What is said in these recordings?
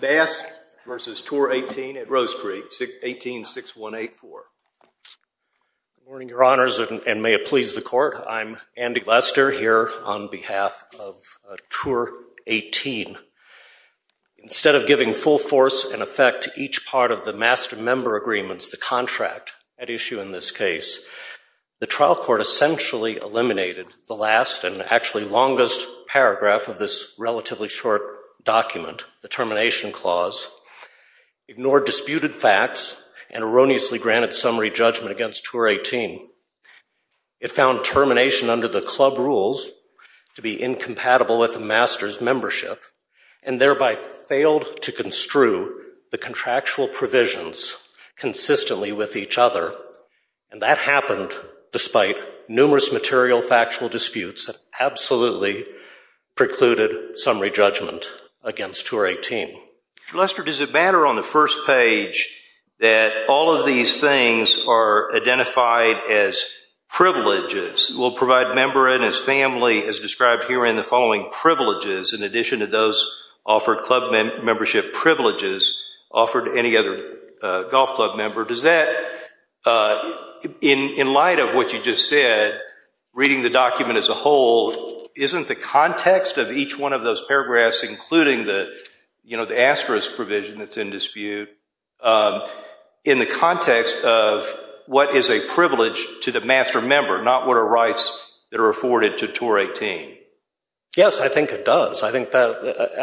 Bass v. Tour 18 at Rose Creek, 18-6184. Good morning, Your Honors, and may it please the Court. I'm Andy Lester here on behalf of Tour 18. Instead of giving full force and effect to each part of the master member agreements, the contract at issue in this case, the trial court essentially eliminated the last and actually longest paragraph of this relatively short document, the termination clause, ignored disputed facts and erroneously granted summary judgment against Tour 18. It found termination under the club rules to be incompatible with the master's membership and thereby failed to construe the contractual provisions consistently with each other. And that happened despite numerous material factual disputes that absolutely precluded summary judgment against Tour 18. Mr. Lester, does it matter on the first page that all of these things are identified as privileges? We'll provide member and his family as described herein the following privileges in addition to those offered club membership privileges offered to any other golf club member. In light of what you just said, reading the document as a whole, isn't the context of each one of those paragraphs, including the asterisk provision that's in dispute, in the context of what is a privilege to the master member, not what are rights that are afforded to Tour 18? Yes, I think it does. I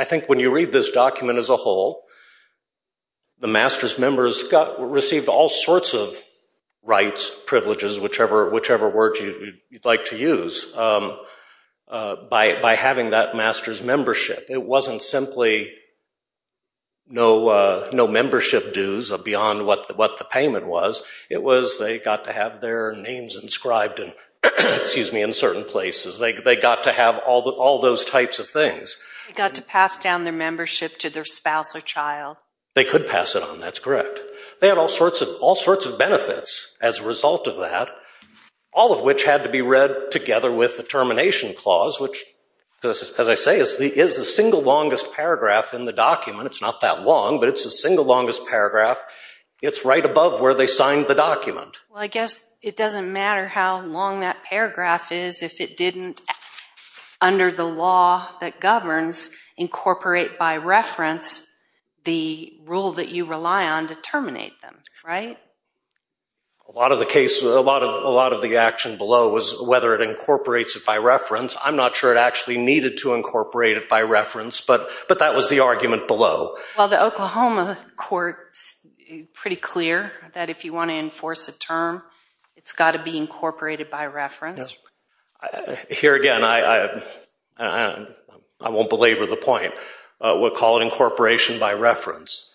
think when you read this document as a whole, the master's members received all sorts of rights, privileges, whichever word you'd like to use, by having that master's membership. It wasn't simply no membership dues beyond what the payment was. It was they got to have their names inscribed in certain places. They got to have all those types of things. They got to pass down their membership to their spouse or child. They could pass it on. That's correct. They had all sorts of benefits as a result of that, all of which had to be read together with the termination clause, which, as I say, is the single longest paragraph in the document. It's not that long, but it's the single longest paragraph. It's right above where they signed the document. Well, I guess it doesn't matter how long that paragraph is if it didn't, under the law that governs, incorporate by reference the rule that you rely on to terminate them, right? A lot of the action below was whether it incorporates it by reference. I'm not sure it actually needed to incorporate it by reference, but that was the argument below. Well, the Oklahoma court is pretty clear that if you want to enforce a term, it's got to be incorporated by reference. Here again, I won't belabor the point. We'll call it incorporation by reference.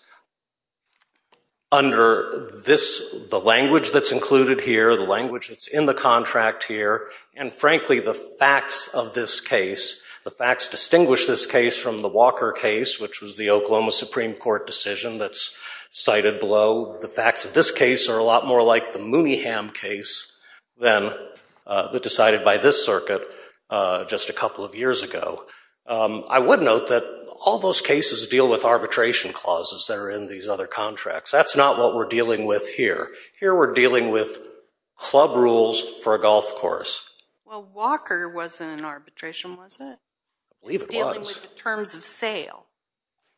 Under this, the language that's included here, the language that's in the contract here, and frankly, the facts of this case, the facts distinguish this case from the Walker case, which was the Oklahoma Supreme Court decision that's cited below. The facts of this case are a lot more like the Mooneyham case than the decided by this circuit just a couple of years ago. I would note that all those cases deal with arbitration clauses that are in these other contracts. That's not what we're dealing with here. Here we're dealing with club rules for a golf course. Well, Walker wasn't an arbitration, was it? I believe it was. It's dealing with the terms of sale.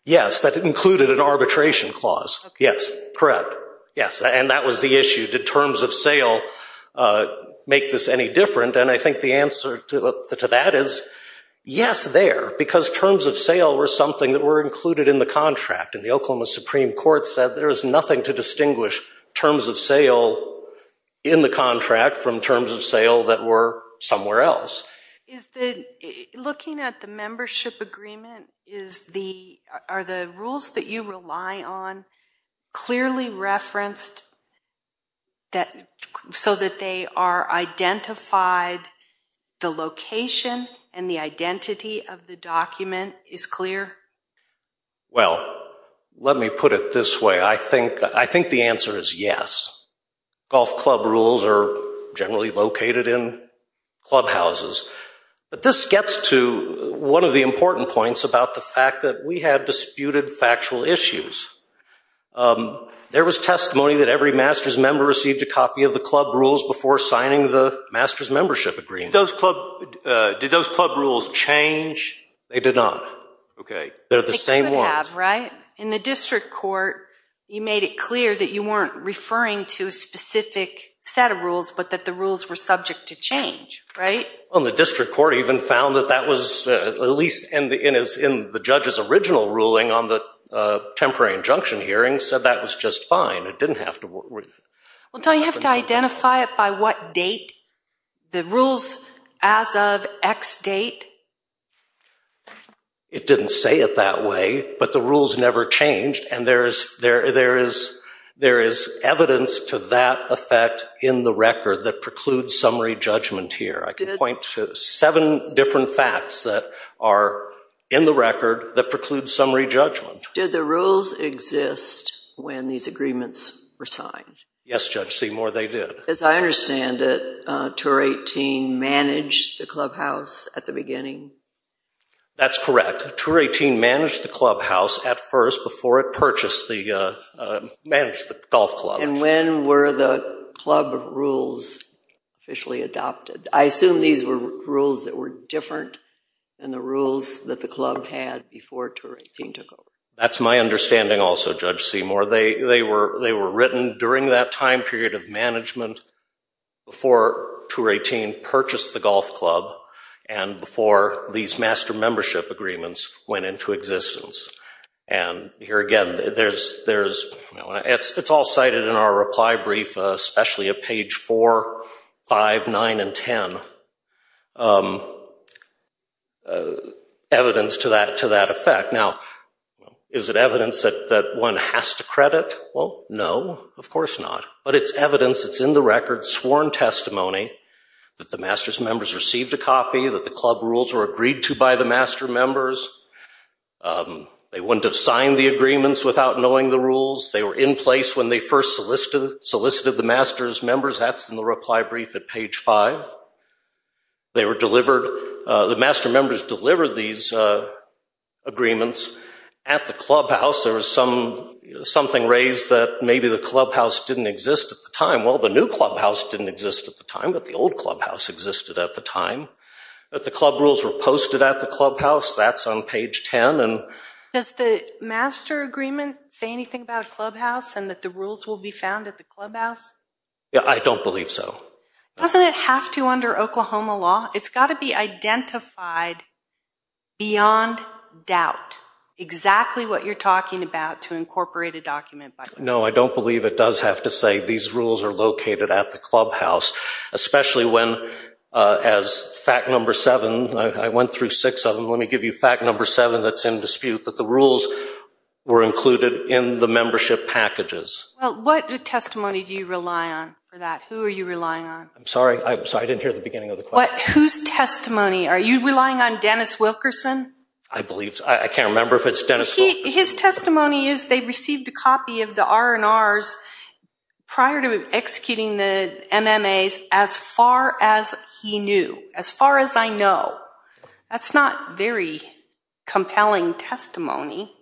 Yes, that included an arbitration clause. Okay. Yes, correct. Yes, and that was the issue. Did terms of sale make this any different? And I think the answer to that is yes, there, because terms of sale were something that were included in the contract. And the Oklahoma Supreme Court said there is nothing to distinguish terms of sale in the contract from terms of sale that were somewhere else. Looking at the membership agreement, are the rules that you rely on clearly referenced so that they are identified, the location and the identity of the document is clear? Well, let me put it this way. I think the answer is yes. Golf club rules are generally located in clubhouses. But this gets to one of the important points about the fact that we have disputed factual issues. There was testimony that every master's member received a copy of the club rules before signing the master's membership agreement. Did those club rules change? They did not. Okay. They're the same ones. They could have, right? In the district court, you made it clear that you weren't referring to a specific set of rules, but that the rules were subject to change, right? Well, and the district court even found that that was, at least in the judge's original ruling on the temporary injunction hearing, said that was just fine. It didn't have to. Well, don't you have to identify it by what date? The rules as of X date? It didn't say it that way, but the rules never changed, and there is evidence to that effect in the record that precludes summary judgment here. I can point to seven different facts that are in the record that preclude summary judgment. Did the rules exist when these agreements were signed? Yes, Judge Seymour, they did. As I understand it, Tour 18 managed the clubhouse at the beginning? That's correct. Tour 18 managed the clubhouse at first before it purchased the golf club. And when were the club rules officially adopted? I assume these were rules that were different than the rules that the club had before Tour 18 took over. That's my understanding also, Judge Seymour. They were written during that time period of management before Tour 18 purchased the golf club and before these master membership agreements went into existence. And here again, it's all cited in our reply brief, especially at page 4, 5, 9, and 10, evidence to that effect. Now, is it evidence that one has to credit? Well, no, of course not. But it's evidence that's in the record, sworn testimony, that the master's members received a copy, that the club rules were agreed to by the master members. They wouldn't have signed the agreements without knowing the rules. They were in place when they first solicited the master's members. That's in the reply brief at page 5. They were delivered, the master members delivered these agreements at the clubhouse. There was something raised that maybe the clubhouse didn't exist at the time. Well, the new clubhouse didn't exist at the time, but the old clubhouse existed at the time. That the club rules were posted at the clubhouse, that's on page 10. Does the master agreement say anything about a clubhouse and that the rules will be found at the clubhouse? I don't believe so. Doesn't it have to under Oklahoma law? It's got to be identified beyond doubt exactly what you're talking about to incorporate a document. No, I don't believe it does have to say these rules are located at the clubhouse, especially when, as fact number seven, I went through six of them. Let me give you fact number seven that's in dispute, that the rules were included in the membership packages. Well, what testimony do you rely on for that? Who are you relying on? I'm sorry, I didn't hear the beginning of the question. Whose testimony? Are you relying on Dennis Wilkerson? I believe so. I can't remember if it's Dennis Wilkerson. His testimony is they received a copy of the R&Rs prior to executing the MMAs as far as he knew, as far as I know. That's not very compelling testimony.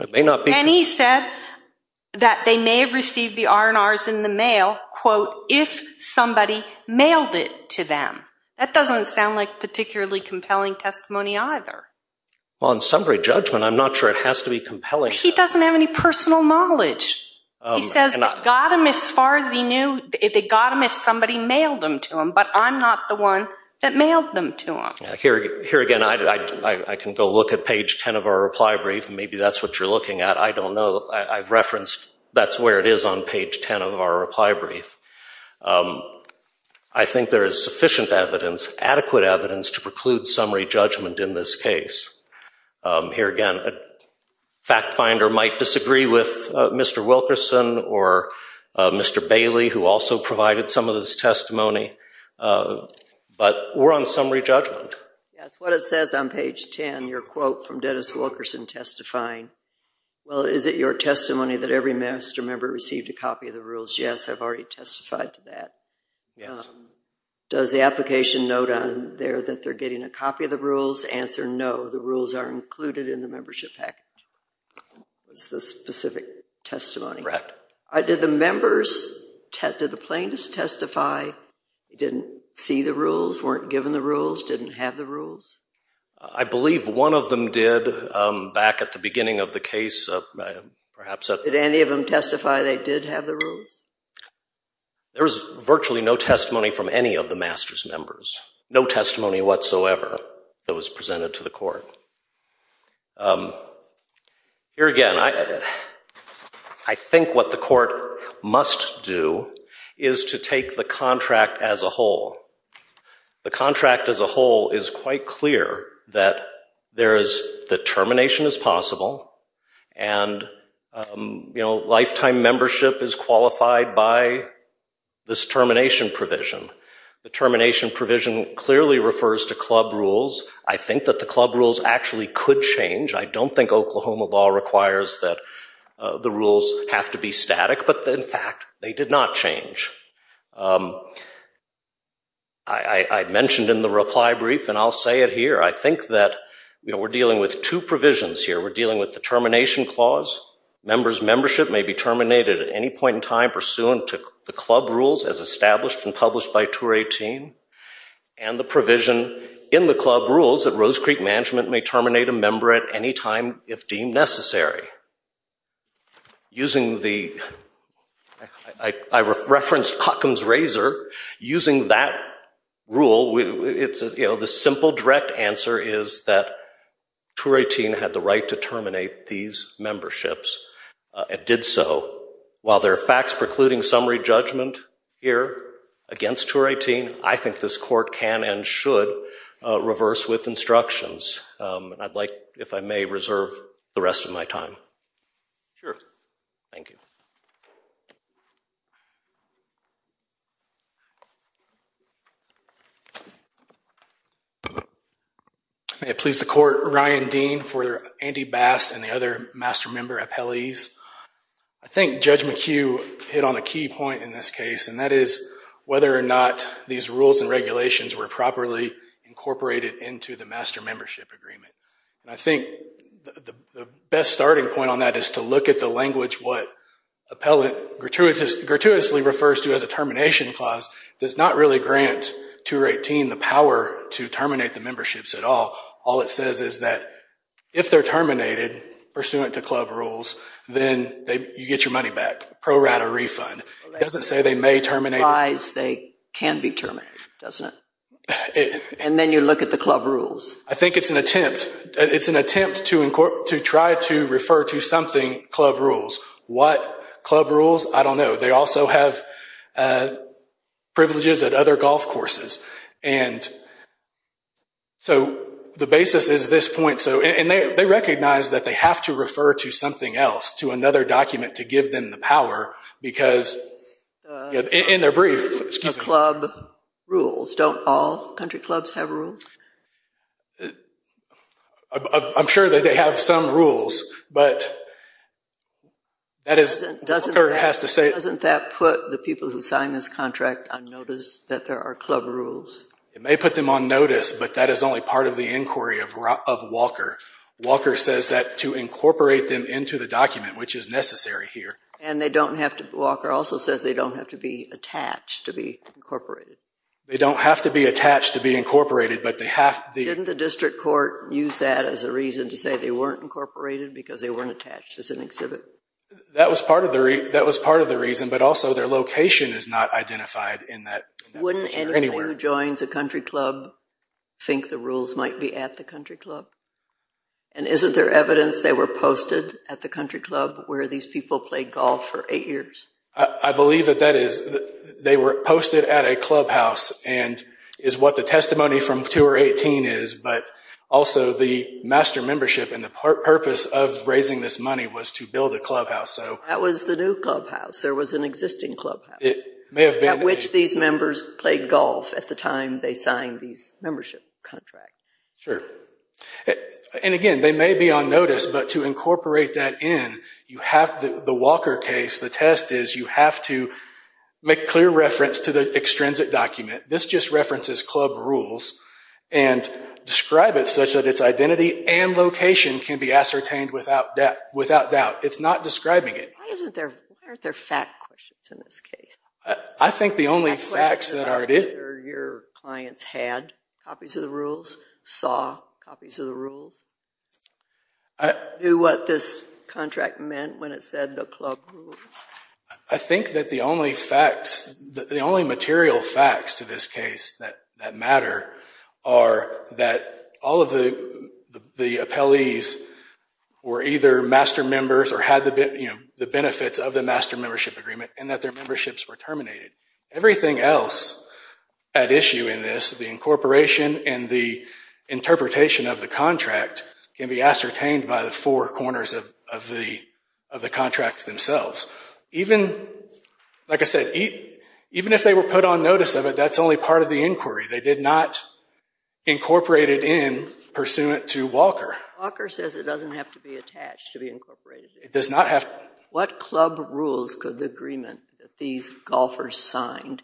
It may not be. And he said that they may have received the R&Rs in the mail, quote, if somebody mailed it to them. That doesn't sound like particularly compelling testimony either. Well, in summary judgment, I'm not sure it has to be compelling. He doesn't have any personal knowledge. He says they got them as far as he knew. They got them if somebody mailed them to him, but I'm not the one that mailed them to him. Here again, I can go look at page 10 of our reply brief. Maybe that's what you're looking at. I don't know. I've referenced that's where it is on page 10 of our reply brief. I think there is sufficient evidence, adequate evidence, to preclude summary judgment in this case. Here again, a fact finder might disagree with Mr. Wilkerson or Mr. Bailey, who also provided some of this testimony. But we're on summary judgment. That's what it says on page 10, your quote from Dennis Wilkerson testifying. Well, is it your testimony that every master member received a copy of the rules? Yes, I've already testified to that. Yes. Does the application note on there that they're getting a copy of the rules? Answer, no. The rules are included in the membership package. It's the specific testimony. Correct. Did the members, did the plaintiffs testify, didn't see the rules, weren't given the rules, didn't have the rules? I believe one of them did back at the beginning of the case. Did any of them testify they did have the rules? There was virtually no testimony from any of the masters members. Here again, I think what the court must do is to take the contract as a whole. The contract as a whole is quite clear that there is the termination as possible, and lifetime membership is qualified by this termination provision. The termination provision clearly refers to club rules. I think that the club rules actually could change. I don't think Oklahoma law requires that the rules have to be static, but, in fact, they did not change. I mentioned in the reply brief, and I'll say it here, I think that we're dealing with two provisions here. We're dealing with the termination clause. Members' membership may be terminated at any point in time pursuant to the club rules as established and published by Tour 18. And the provision in the club rules that Rose Creek Management may terminate a member at any time if deemed necessary. Using the ‑‑ I referenced Huckam's Razor. Using that rule, the simple direct answer is that Tour 18 had the right to terminate these memberships and did so. While there are facts precluding summary judgment here against Tour 18, I think this court can and should reverse with instructions. I'd like, if I may, reserve the rest of my time. Sure. Thank you. May it please the Court, Ryan Dean for Andy Bass and the other master member appellees. I think Judge McHugh hit on a key point in this case, and that is whether or not these rules and regulations were properly incorporated into the master membership agreement. And I think the best starting point on that is to look at the language, what appellant gratuitously refers to as a termination clause, does not really grant Tour 18 the power to terminate the memberships at all. All it says is that if they're terminated pursuant to club rules, then you get your money back, pro rata refund. It doesn't say they may terminate. It implies they can be terminated, doesn't it? And then you look at the club rules. I think it's an attempt to try to refer to something club rules. What club rules? I don't know. They also have privileges at other golf courses. And so the basis is this point. And they recognize that they have to refer to something else, to another document to give them the power, because in their brief... The club rules, don't all country clubs have rules? I'm sure that they have some rules, but that is... Doesn't that put the people who sign this contract on notice that there are club rules? It may put them on notice, but that is only part of the inquiry of Walker. Walker says that to incorporate them into the document, which is necessary here. And they don't have to...Walker also says they don't have to be attached to be incorporated. They don't have to be attached to be incorporated, but they have... Didn't the district court use that as a reason to say they weren't incorporated because they weren't attached as an exhibit? That was part of the reason, but also their location is not identified in that... Wouldn't anyone who joins a country club think the rules might be at the country club? And isn't there evidence they were posted at the country club where these people played golf for eight years? I believe that that is...they were posted at a clubhouse, and is what the testimony from Tour 18 is, but also the master membership and the purpose of raising this money was to build a clubhouse, so... That was the new clubhouse. There was an existing clubhouse. At which these members played golf at the time they signed these membership contracts. Sure. And again, they may be on notice, but to incorporate that in, you have... The Walker case, the test is you have to make clear reference to the extrinsic document. This just references club rules and describe it such that its identity and location can be ascertained without doubt. It's not describing it. Why aren't there fact questions in this case? I think the only facts that are... Are your clients had copies of the rules? Saw copies of the rules? Knew what this contract meant when it said the club rules? I think that the only facts, the only material facts to this case that matter, are that all of the appellees were either master members or had the benefits of the master membership agreement, and that their memberships were terminated. Everything else at issue in this, the incorporation and the interpretation of the contract, can be ascertained by the four corners of the contract themselves. Even, like I said, even if they were put on notice of it, that's only part of the inquiry. They did not incorporate it in pursuant to Walker. Walker says it doesn't have to be attached to be incorporated. It does not have... What club rules could the agreement that these golfers signed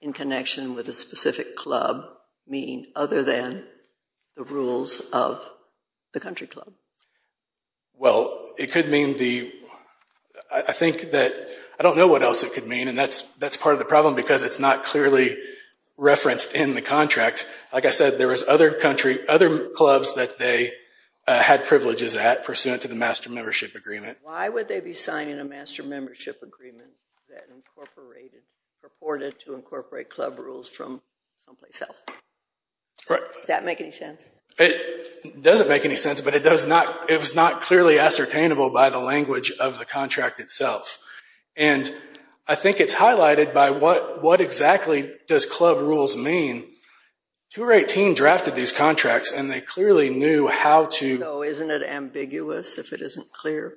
in connection with a specific club mean other than the rules of the country club? Well, it could mean the... I think that... I don't know what else it could mean, and that's part of the problem because it's not clearly referenced in the contract. Like I said, there was other clubs that they had privileges at pursuant to the master membership agreement. Why would they be signing a master membership agreement that incorporated, purported to incorporate club rules from someplace else? Does that make any sense? It doesn't make any sense, but it was not clearly ascertainable by the language of the contract itself. And I think it's highlighted by what exactly does club rules mean. Tour 18 drafted these contracts, and they clearly knew how to... So isn't it ambiguous if it isn't clear?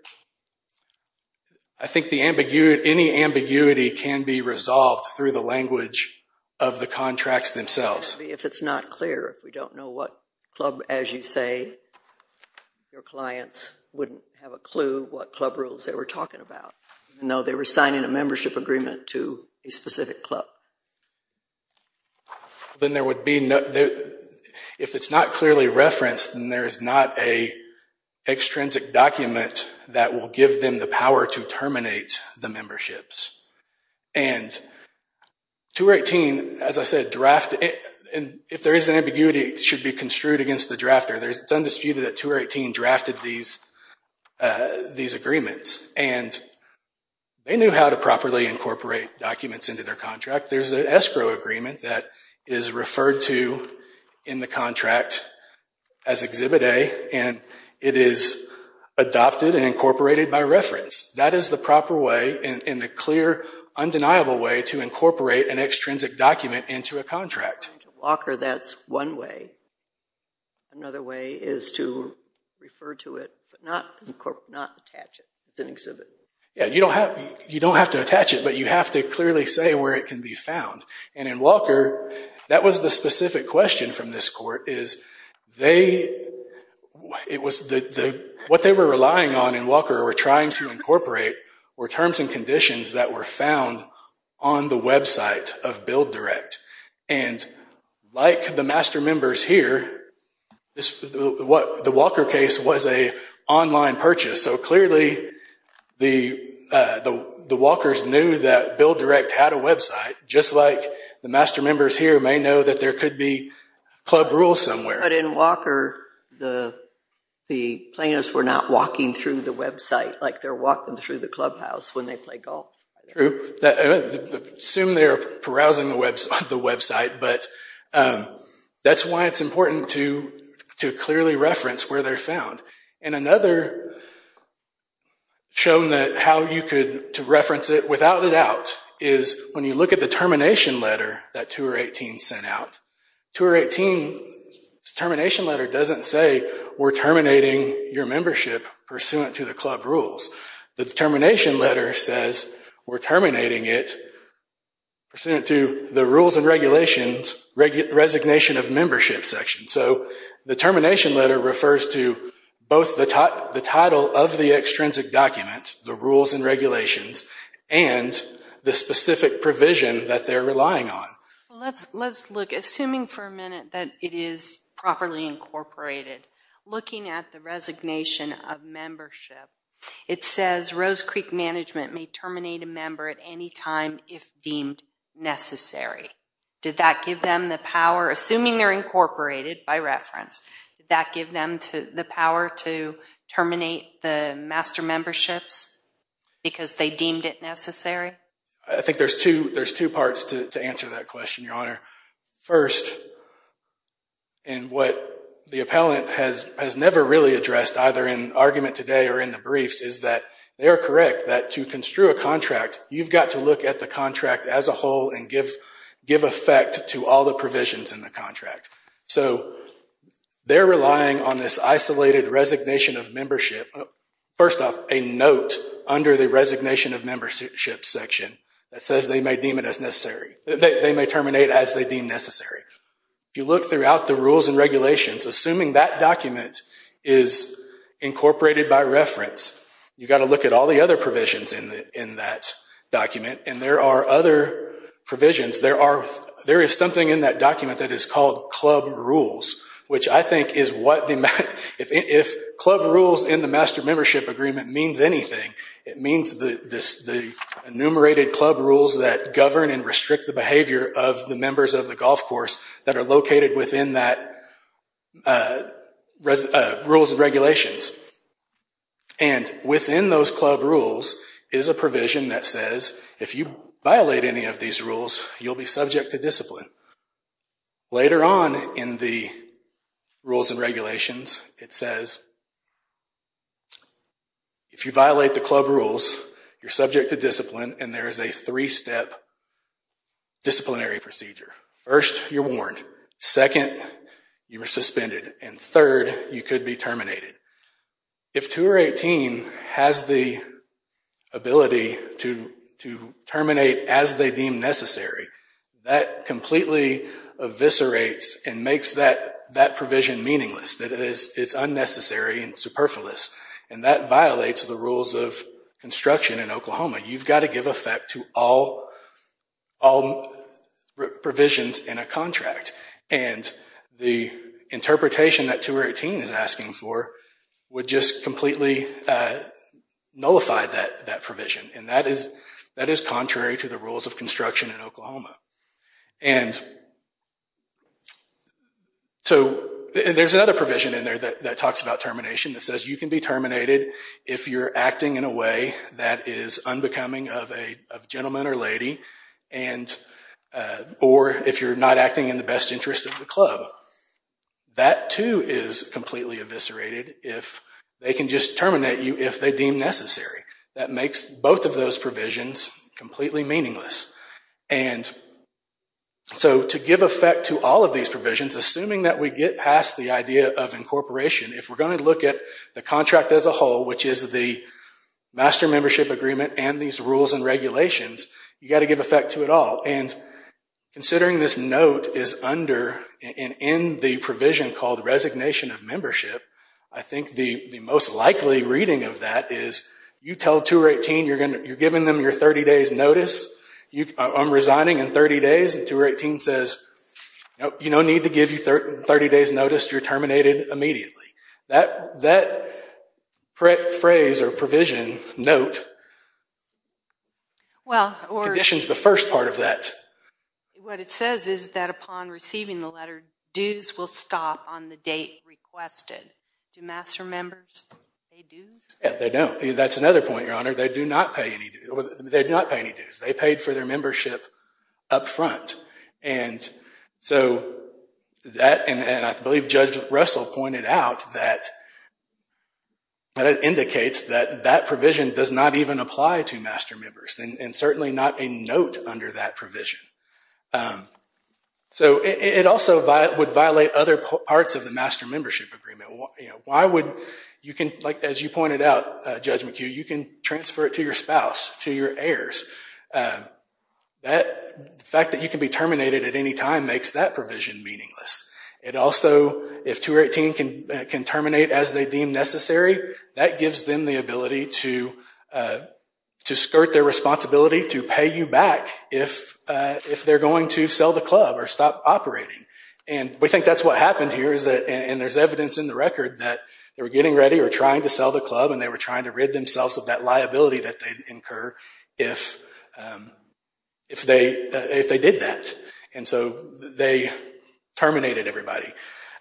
I think any ambiguity can be resolved through the language of the contracts themselves. Maybe if it's not clear, if we don't know what club, as you say, your clients wouldn't have a clue what club rules they were talking about, even though they were signing a membership agreement to a specific club. Then there would be no... If it's not clearly referenced, then there is not an extrinsic document that will give them the power to terminate the memberships. And Tour 18, as I said, draft... If there is an ambiguity, it should be construed against the drafter. It's undisputed that Tour 18 drafted these agreements, and they knew how to properly incorporate documents into their contract. There's an escrow agreement that is referred to in the contract as Exhibit A, and it is adopted and incorporated by reference. That is the proper way and the clear, undeniable way to incorporate an extrinsic document into a contract. Walker, that's one way. Another way is to refer to it, but not attach it. It's an exhibit. You don't have to attach it, but you have to clearly say where it can be found. And in Walker, that was the specific question from this court, is what they were relying on in Walker or trying to incorporate were terms and conditions that were found on the website of BuildDirect. And like the master members here, the Walker case was an online purchase, so clearly the Walkers knew that BuildDirect had a website, just like the master members here may know that there could be club rules somewhere. But in Walker, the plaintiffs were not walking through the website like they're walking through the clubhouse when they play golf. I assume they're browsing the website, but that's why it's important to clearly reference where they're found. And another shown that how you could reference it without a doubt is when you look at the termination letter that Tour 18 sent out. Tour 18's termination letter doesn't say, we're terminating your membership pursuant to the club rules. The termination letter says, we're terminating it pursuant to the rules and regulations resignation of membership section. So the termination letter refers to both the title of the extrinsic document, the rules and regulations, and the specific provision that they're relying on. Let's look, assuming for a minute that it is properly incorporated, looking at the resignation of membership, it says Rose Creek Management may terminate a member at any time if deemed necessary. Did that give them the power, assuming they're incorporated by reference, did that give them the power to terminate the master memberships because they deemed it necessary? I think there's two parts to answer that question, Your Honor. First, and what the appellant has never really addressed, either in argument today or in the briefs, is that they are correct that to construe a contract, you've got to look at the contract as a whole and give effect to all the provisions in the contract. So they're relying on this isolated resignation of membership. First off, a note under the resignation of membership section that says they may deem it as necessary. They may terminate as they deem necessary. If you look throughout the rules and regulations, assuming that document is incorporated by reference, you've got to look at all the other provisions in that document, and there are other provisions. There is something in that document that is called club rules, which I think is what the— if club rules in the master membership agreement means anything, it means the enumerated club rules that govern and restrict the behavior of the members of the golf course that are located within that rules and regulations. And within those club rules is a provision that says if you violate any of these rules, you'll be subject to discipline. Later on in the rules and regulations, it says if you violate the club rules, you're subject to discipline, and there is a three-step disciplinary procedure. First, you're warned. Second, you are suspended. And third, you could be terminated. If Tour 18 has the ability to terminate as they deem necessary, that completely eviscerates and makes that provision meaningless, that it is unnecessary and superfluous, and that violates the rules of construction in Oklahoma. You've got to give effect to all provisions in a contract, and the interpretation that Tour 18 is asking for would just completely nullify that provision, and so there's another provision in there that talks about termination that says you can be terminated if you're acting in a way that is unbecoming of a gentleman or lady, or if you're not acting in the best interest of the club. That, too, is completely eviscerated. They can just terminate you if they deem necessary. That makes both of those provisions completely meaningless, and so to give effect to all of these provisions, assuming that we get past the idea of incorporation, if we're going to look at the contract as a whole, which is the Master Membership Agreement and these rules and regulations, you've got to give effect to it all, and considering this note is under and in the provision called Resignation of Membership, I think the most likely reading of that is you tell Tour 18 you're giving them your 30 days' notice, I'm resigning in 30 days, and Tour 18 says, you don't need to give your 30 days' notice, you're terminated immediately. That phrase or provision, note, conditions the first part of that. What it says is that upon receiving the letter, dues will stop on the date requested. Do Master Members pay dues? They don't. That's another point, Your Honor. They do not pay any dues. They paid for their membership up front, and so that, and I believe Judge Russell pointed out that it indicates that that provision does not even apply to Master Members, and certainly not a note under that provision. So it also would violate other parts of the Master Membership Agreement. As you pointed out, Judge McHugh, you can transfer it to your spouse, to your heirs. The fact that you can be terminated at any time makes that provision meaningless. Also, if Tour 18 can terminate as they deem necessary, that gives them the ability to skirt their responsibility to pay you back if they're going to sell the club or stop operating, and we think that's what happened here, and there's evidence in the record that they were getting ready or trying to sell the club, and they were trying to rid themselves of that liability that they'd incur if they did that, and so they terminated everybody.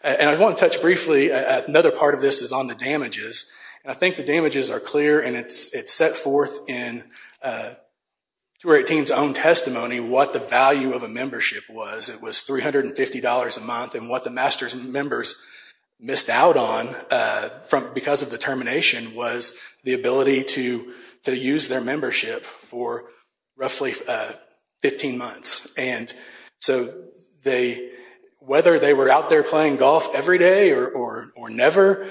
And I want to touch briefly, another part of this is on the damages, and I think the damages are clear, and it's set forth in Tour 18's own testimony what the value of a membership was. It was $350 a month, and what the Master Members missed out on because of the termination was the ability to use their membership for roughly 15 months, and so whether they were out there playing golf every day or never,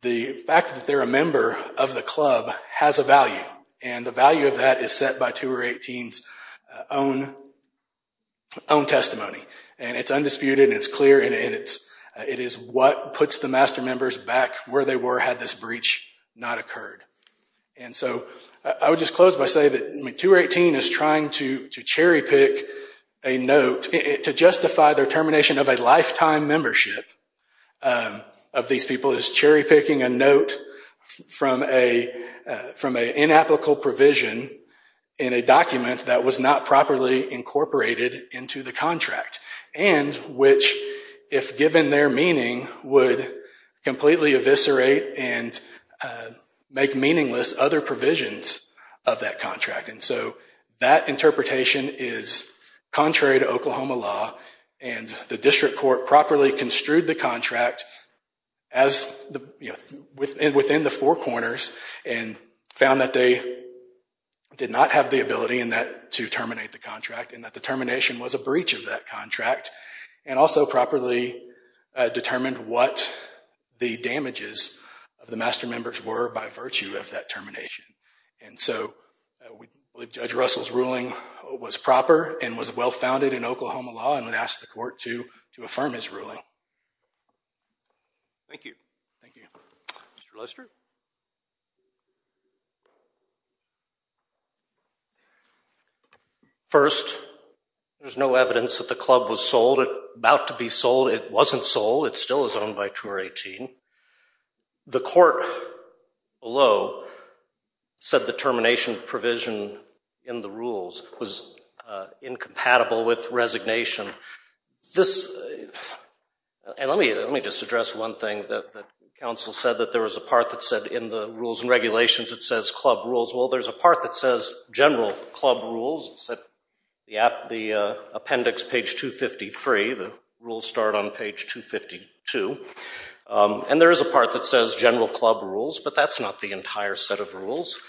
the fact that they're a member of the club has a value, and the value of that is set by Tour 18's own testimony, and it's undisputed and it's clear, and it is what puts the Master Members back where they were had this breach not occurred. And so I would just close by saying that Tour 18 is trying to cherry-pick a note to justify their termination of a lifetime membership of these people, as well as cherry-picking a note from an inapplicable provision in a document that was not properly incorporated into the contract, and which, if given their meaning, would completely eviscerate and make meaningless other provisions of that contract. And so that interpretation is contrary to Oklahoma law, and the district court properly construed the contract within the four corners and found that they did not have the ability to terminate the contract, and that the termination was a breach of that contract, and also properly determined what the damages of the Master Members were by virtue of that termination. And so I believe Judge Russell's ruling was proper and was well-founded in Oklahoma law, and I'd ask the court to affirm his ruling. Thank you. Thank you. Mr. Lester? First, there's no evidence that the club was sold. It's about to be sold. It wasn't sold. It still is owned by Tour 18. The court below said the termination provision in the rules was incompatible with resignation. And let me just address one thing that counsel said, that there was a part that said in the rules and regulations it says club rules. Well, there's a part that says general club rules. The appendix, page 253. The rules start on page 252. And there is a part that says general club rules, but that's not the entire set of rules.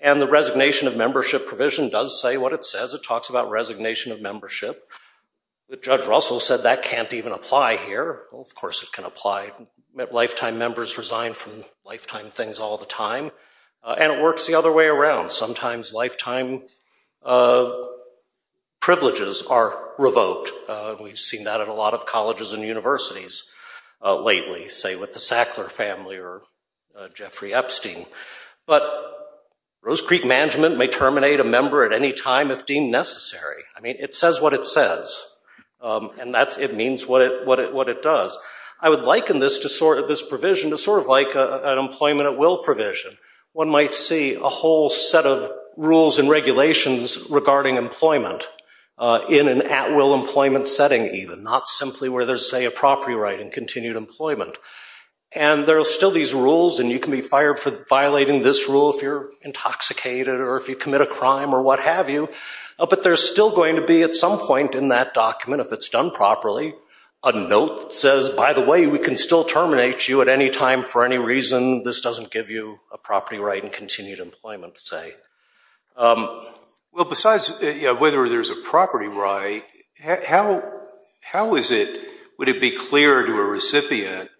And the resignation of membership provision does say what it says. It talks about resignation of membership. Judge Russell said that can't even apply here. Well, of course it can apply. Lifetime members resign from lifetime things all the time. And it works the other way around. Sometimes lifetime privileges are revoked. We've seen that at a lot of colleges and universities lately, say with the Sackler family or Jeffrey Epstein. But Rose Creek Management may terminate a member at any time if deemed necessary. I mean, it says what it says. And it means what it does. I would liken this provision to sort of like an employment at will provision. One might see a whole set of rules and regulations regarding employment in an at will employment setting even, not simply where there's, say, a property right in continued employment. And there are still these rules, and you can be fired for violating this rule if you're intoxicated or if you commit a crime or what have you. But there's still going to be at some point in that document, if it's done properly, a note that says, by the way, we can still terminate you at any time for any reason. This doesn't give you a property right in continued employment, say. Well, besides whether there's a property right, how would it be clear to a recipient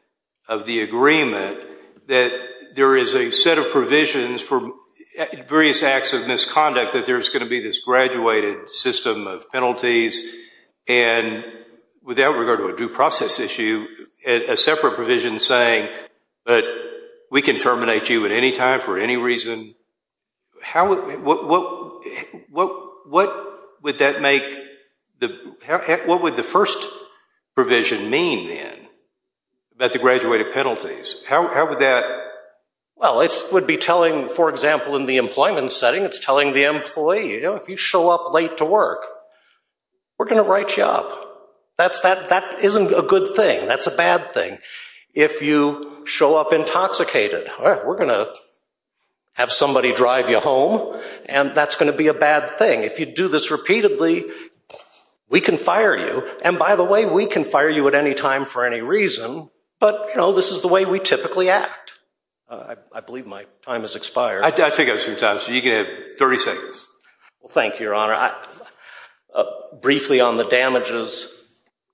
of the agreement that there is a set of provisions for various acts of misconduct, that there's going to be this graduated system of penalties, and without regard to a due process issue, you have a separate provision saying that we can terminate you at any time for any reason. What would the first provision mean then about the graduated penalties? How would that? Well, it would be telling, for example, in the employment setting, it's telling the employee, you know, if you show up late to work, we're going to write you up. That isn't a good thing. That's a bad thing. If you show up intoxicated, all right, we're going to have somebody drive you home, and that's going to be a bad thing. If you do this repeatedly, we can fire you. And by the way, we can fire you at any time for any reason. But, you know, this is the way we typically act. I believe my time has expired. You can have 30 seconds. Well, thank you, Your Honor. Briefly on the damages,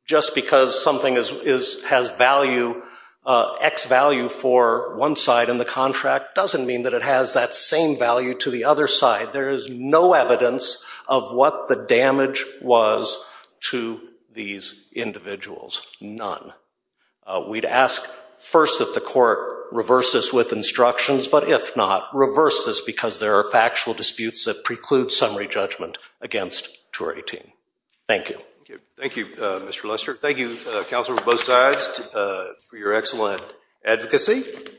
just because something has value, X value for one side in the contract, doesn't mean that it has that same value to the other side. There is no evidence of what the damage was to these individuals, none. We'd ask first that the court reverse this with instructions, but if not, reverse this because there are factual disputes that preclude summary judgment against Jury 18. Thank you. Thank you, Mr. Lester. Thank you, counsel, for both sides for your excellent advocacy.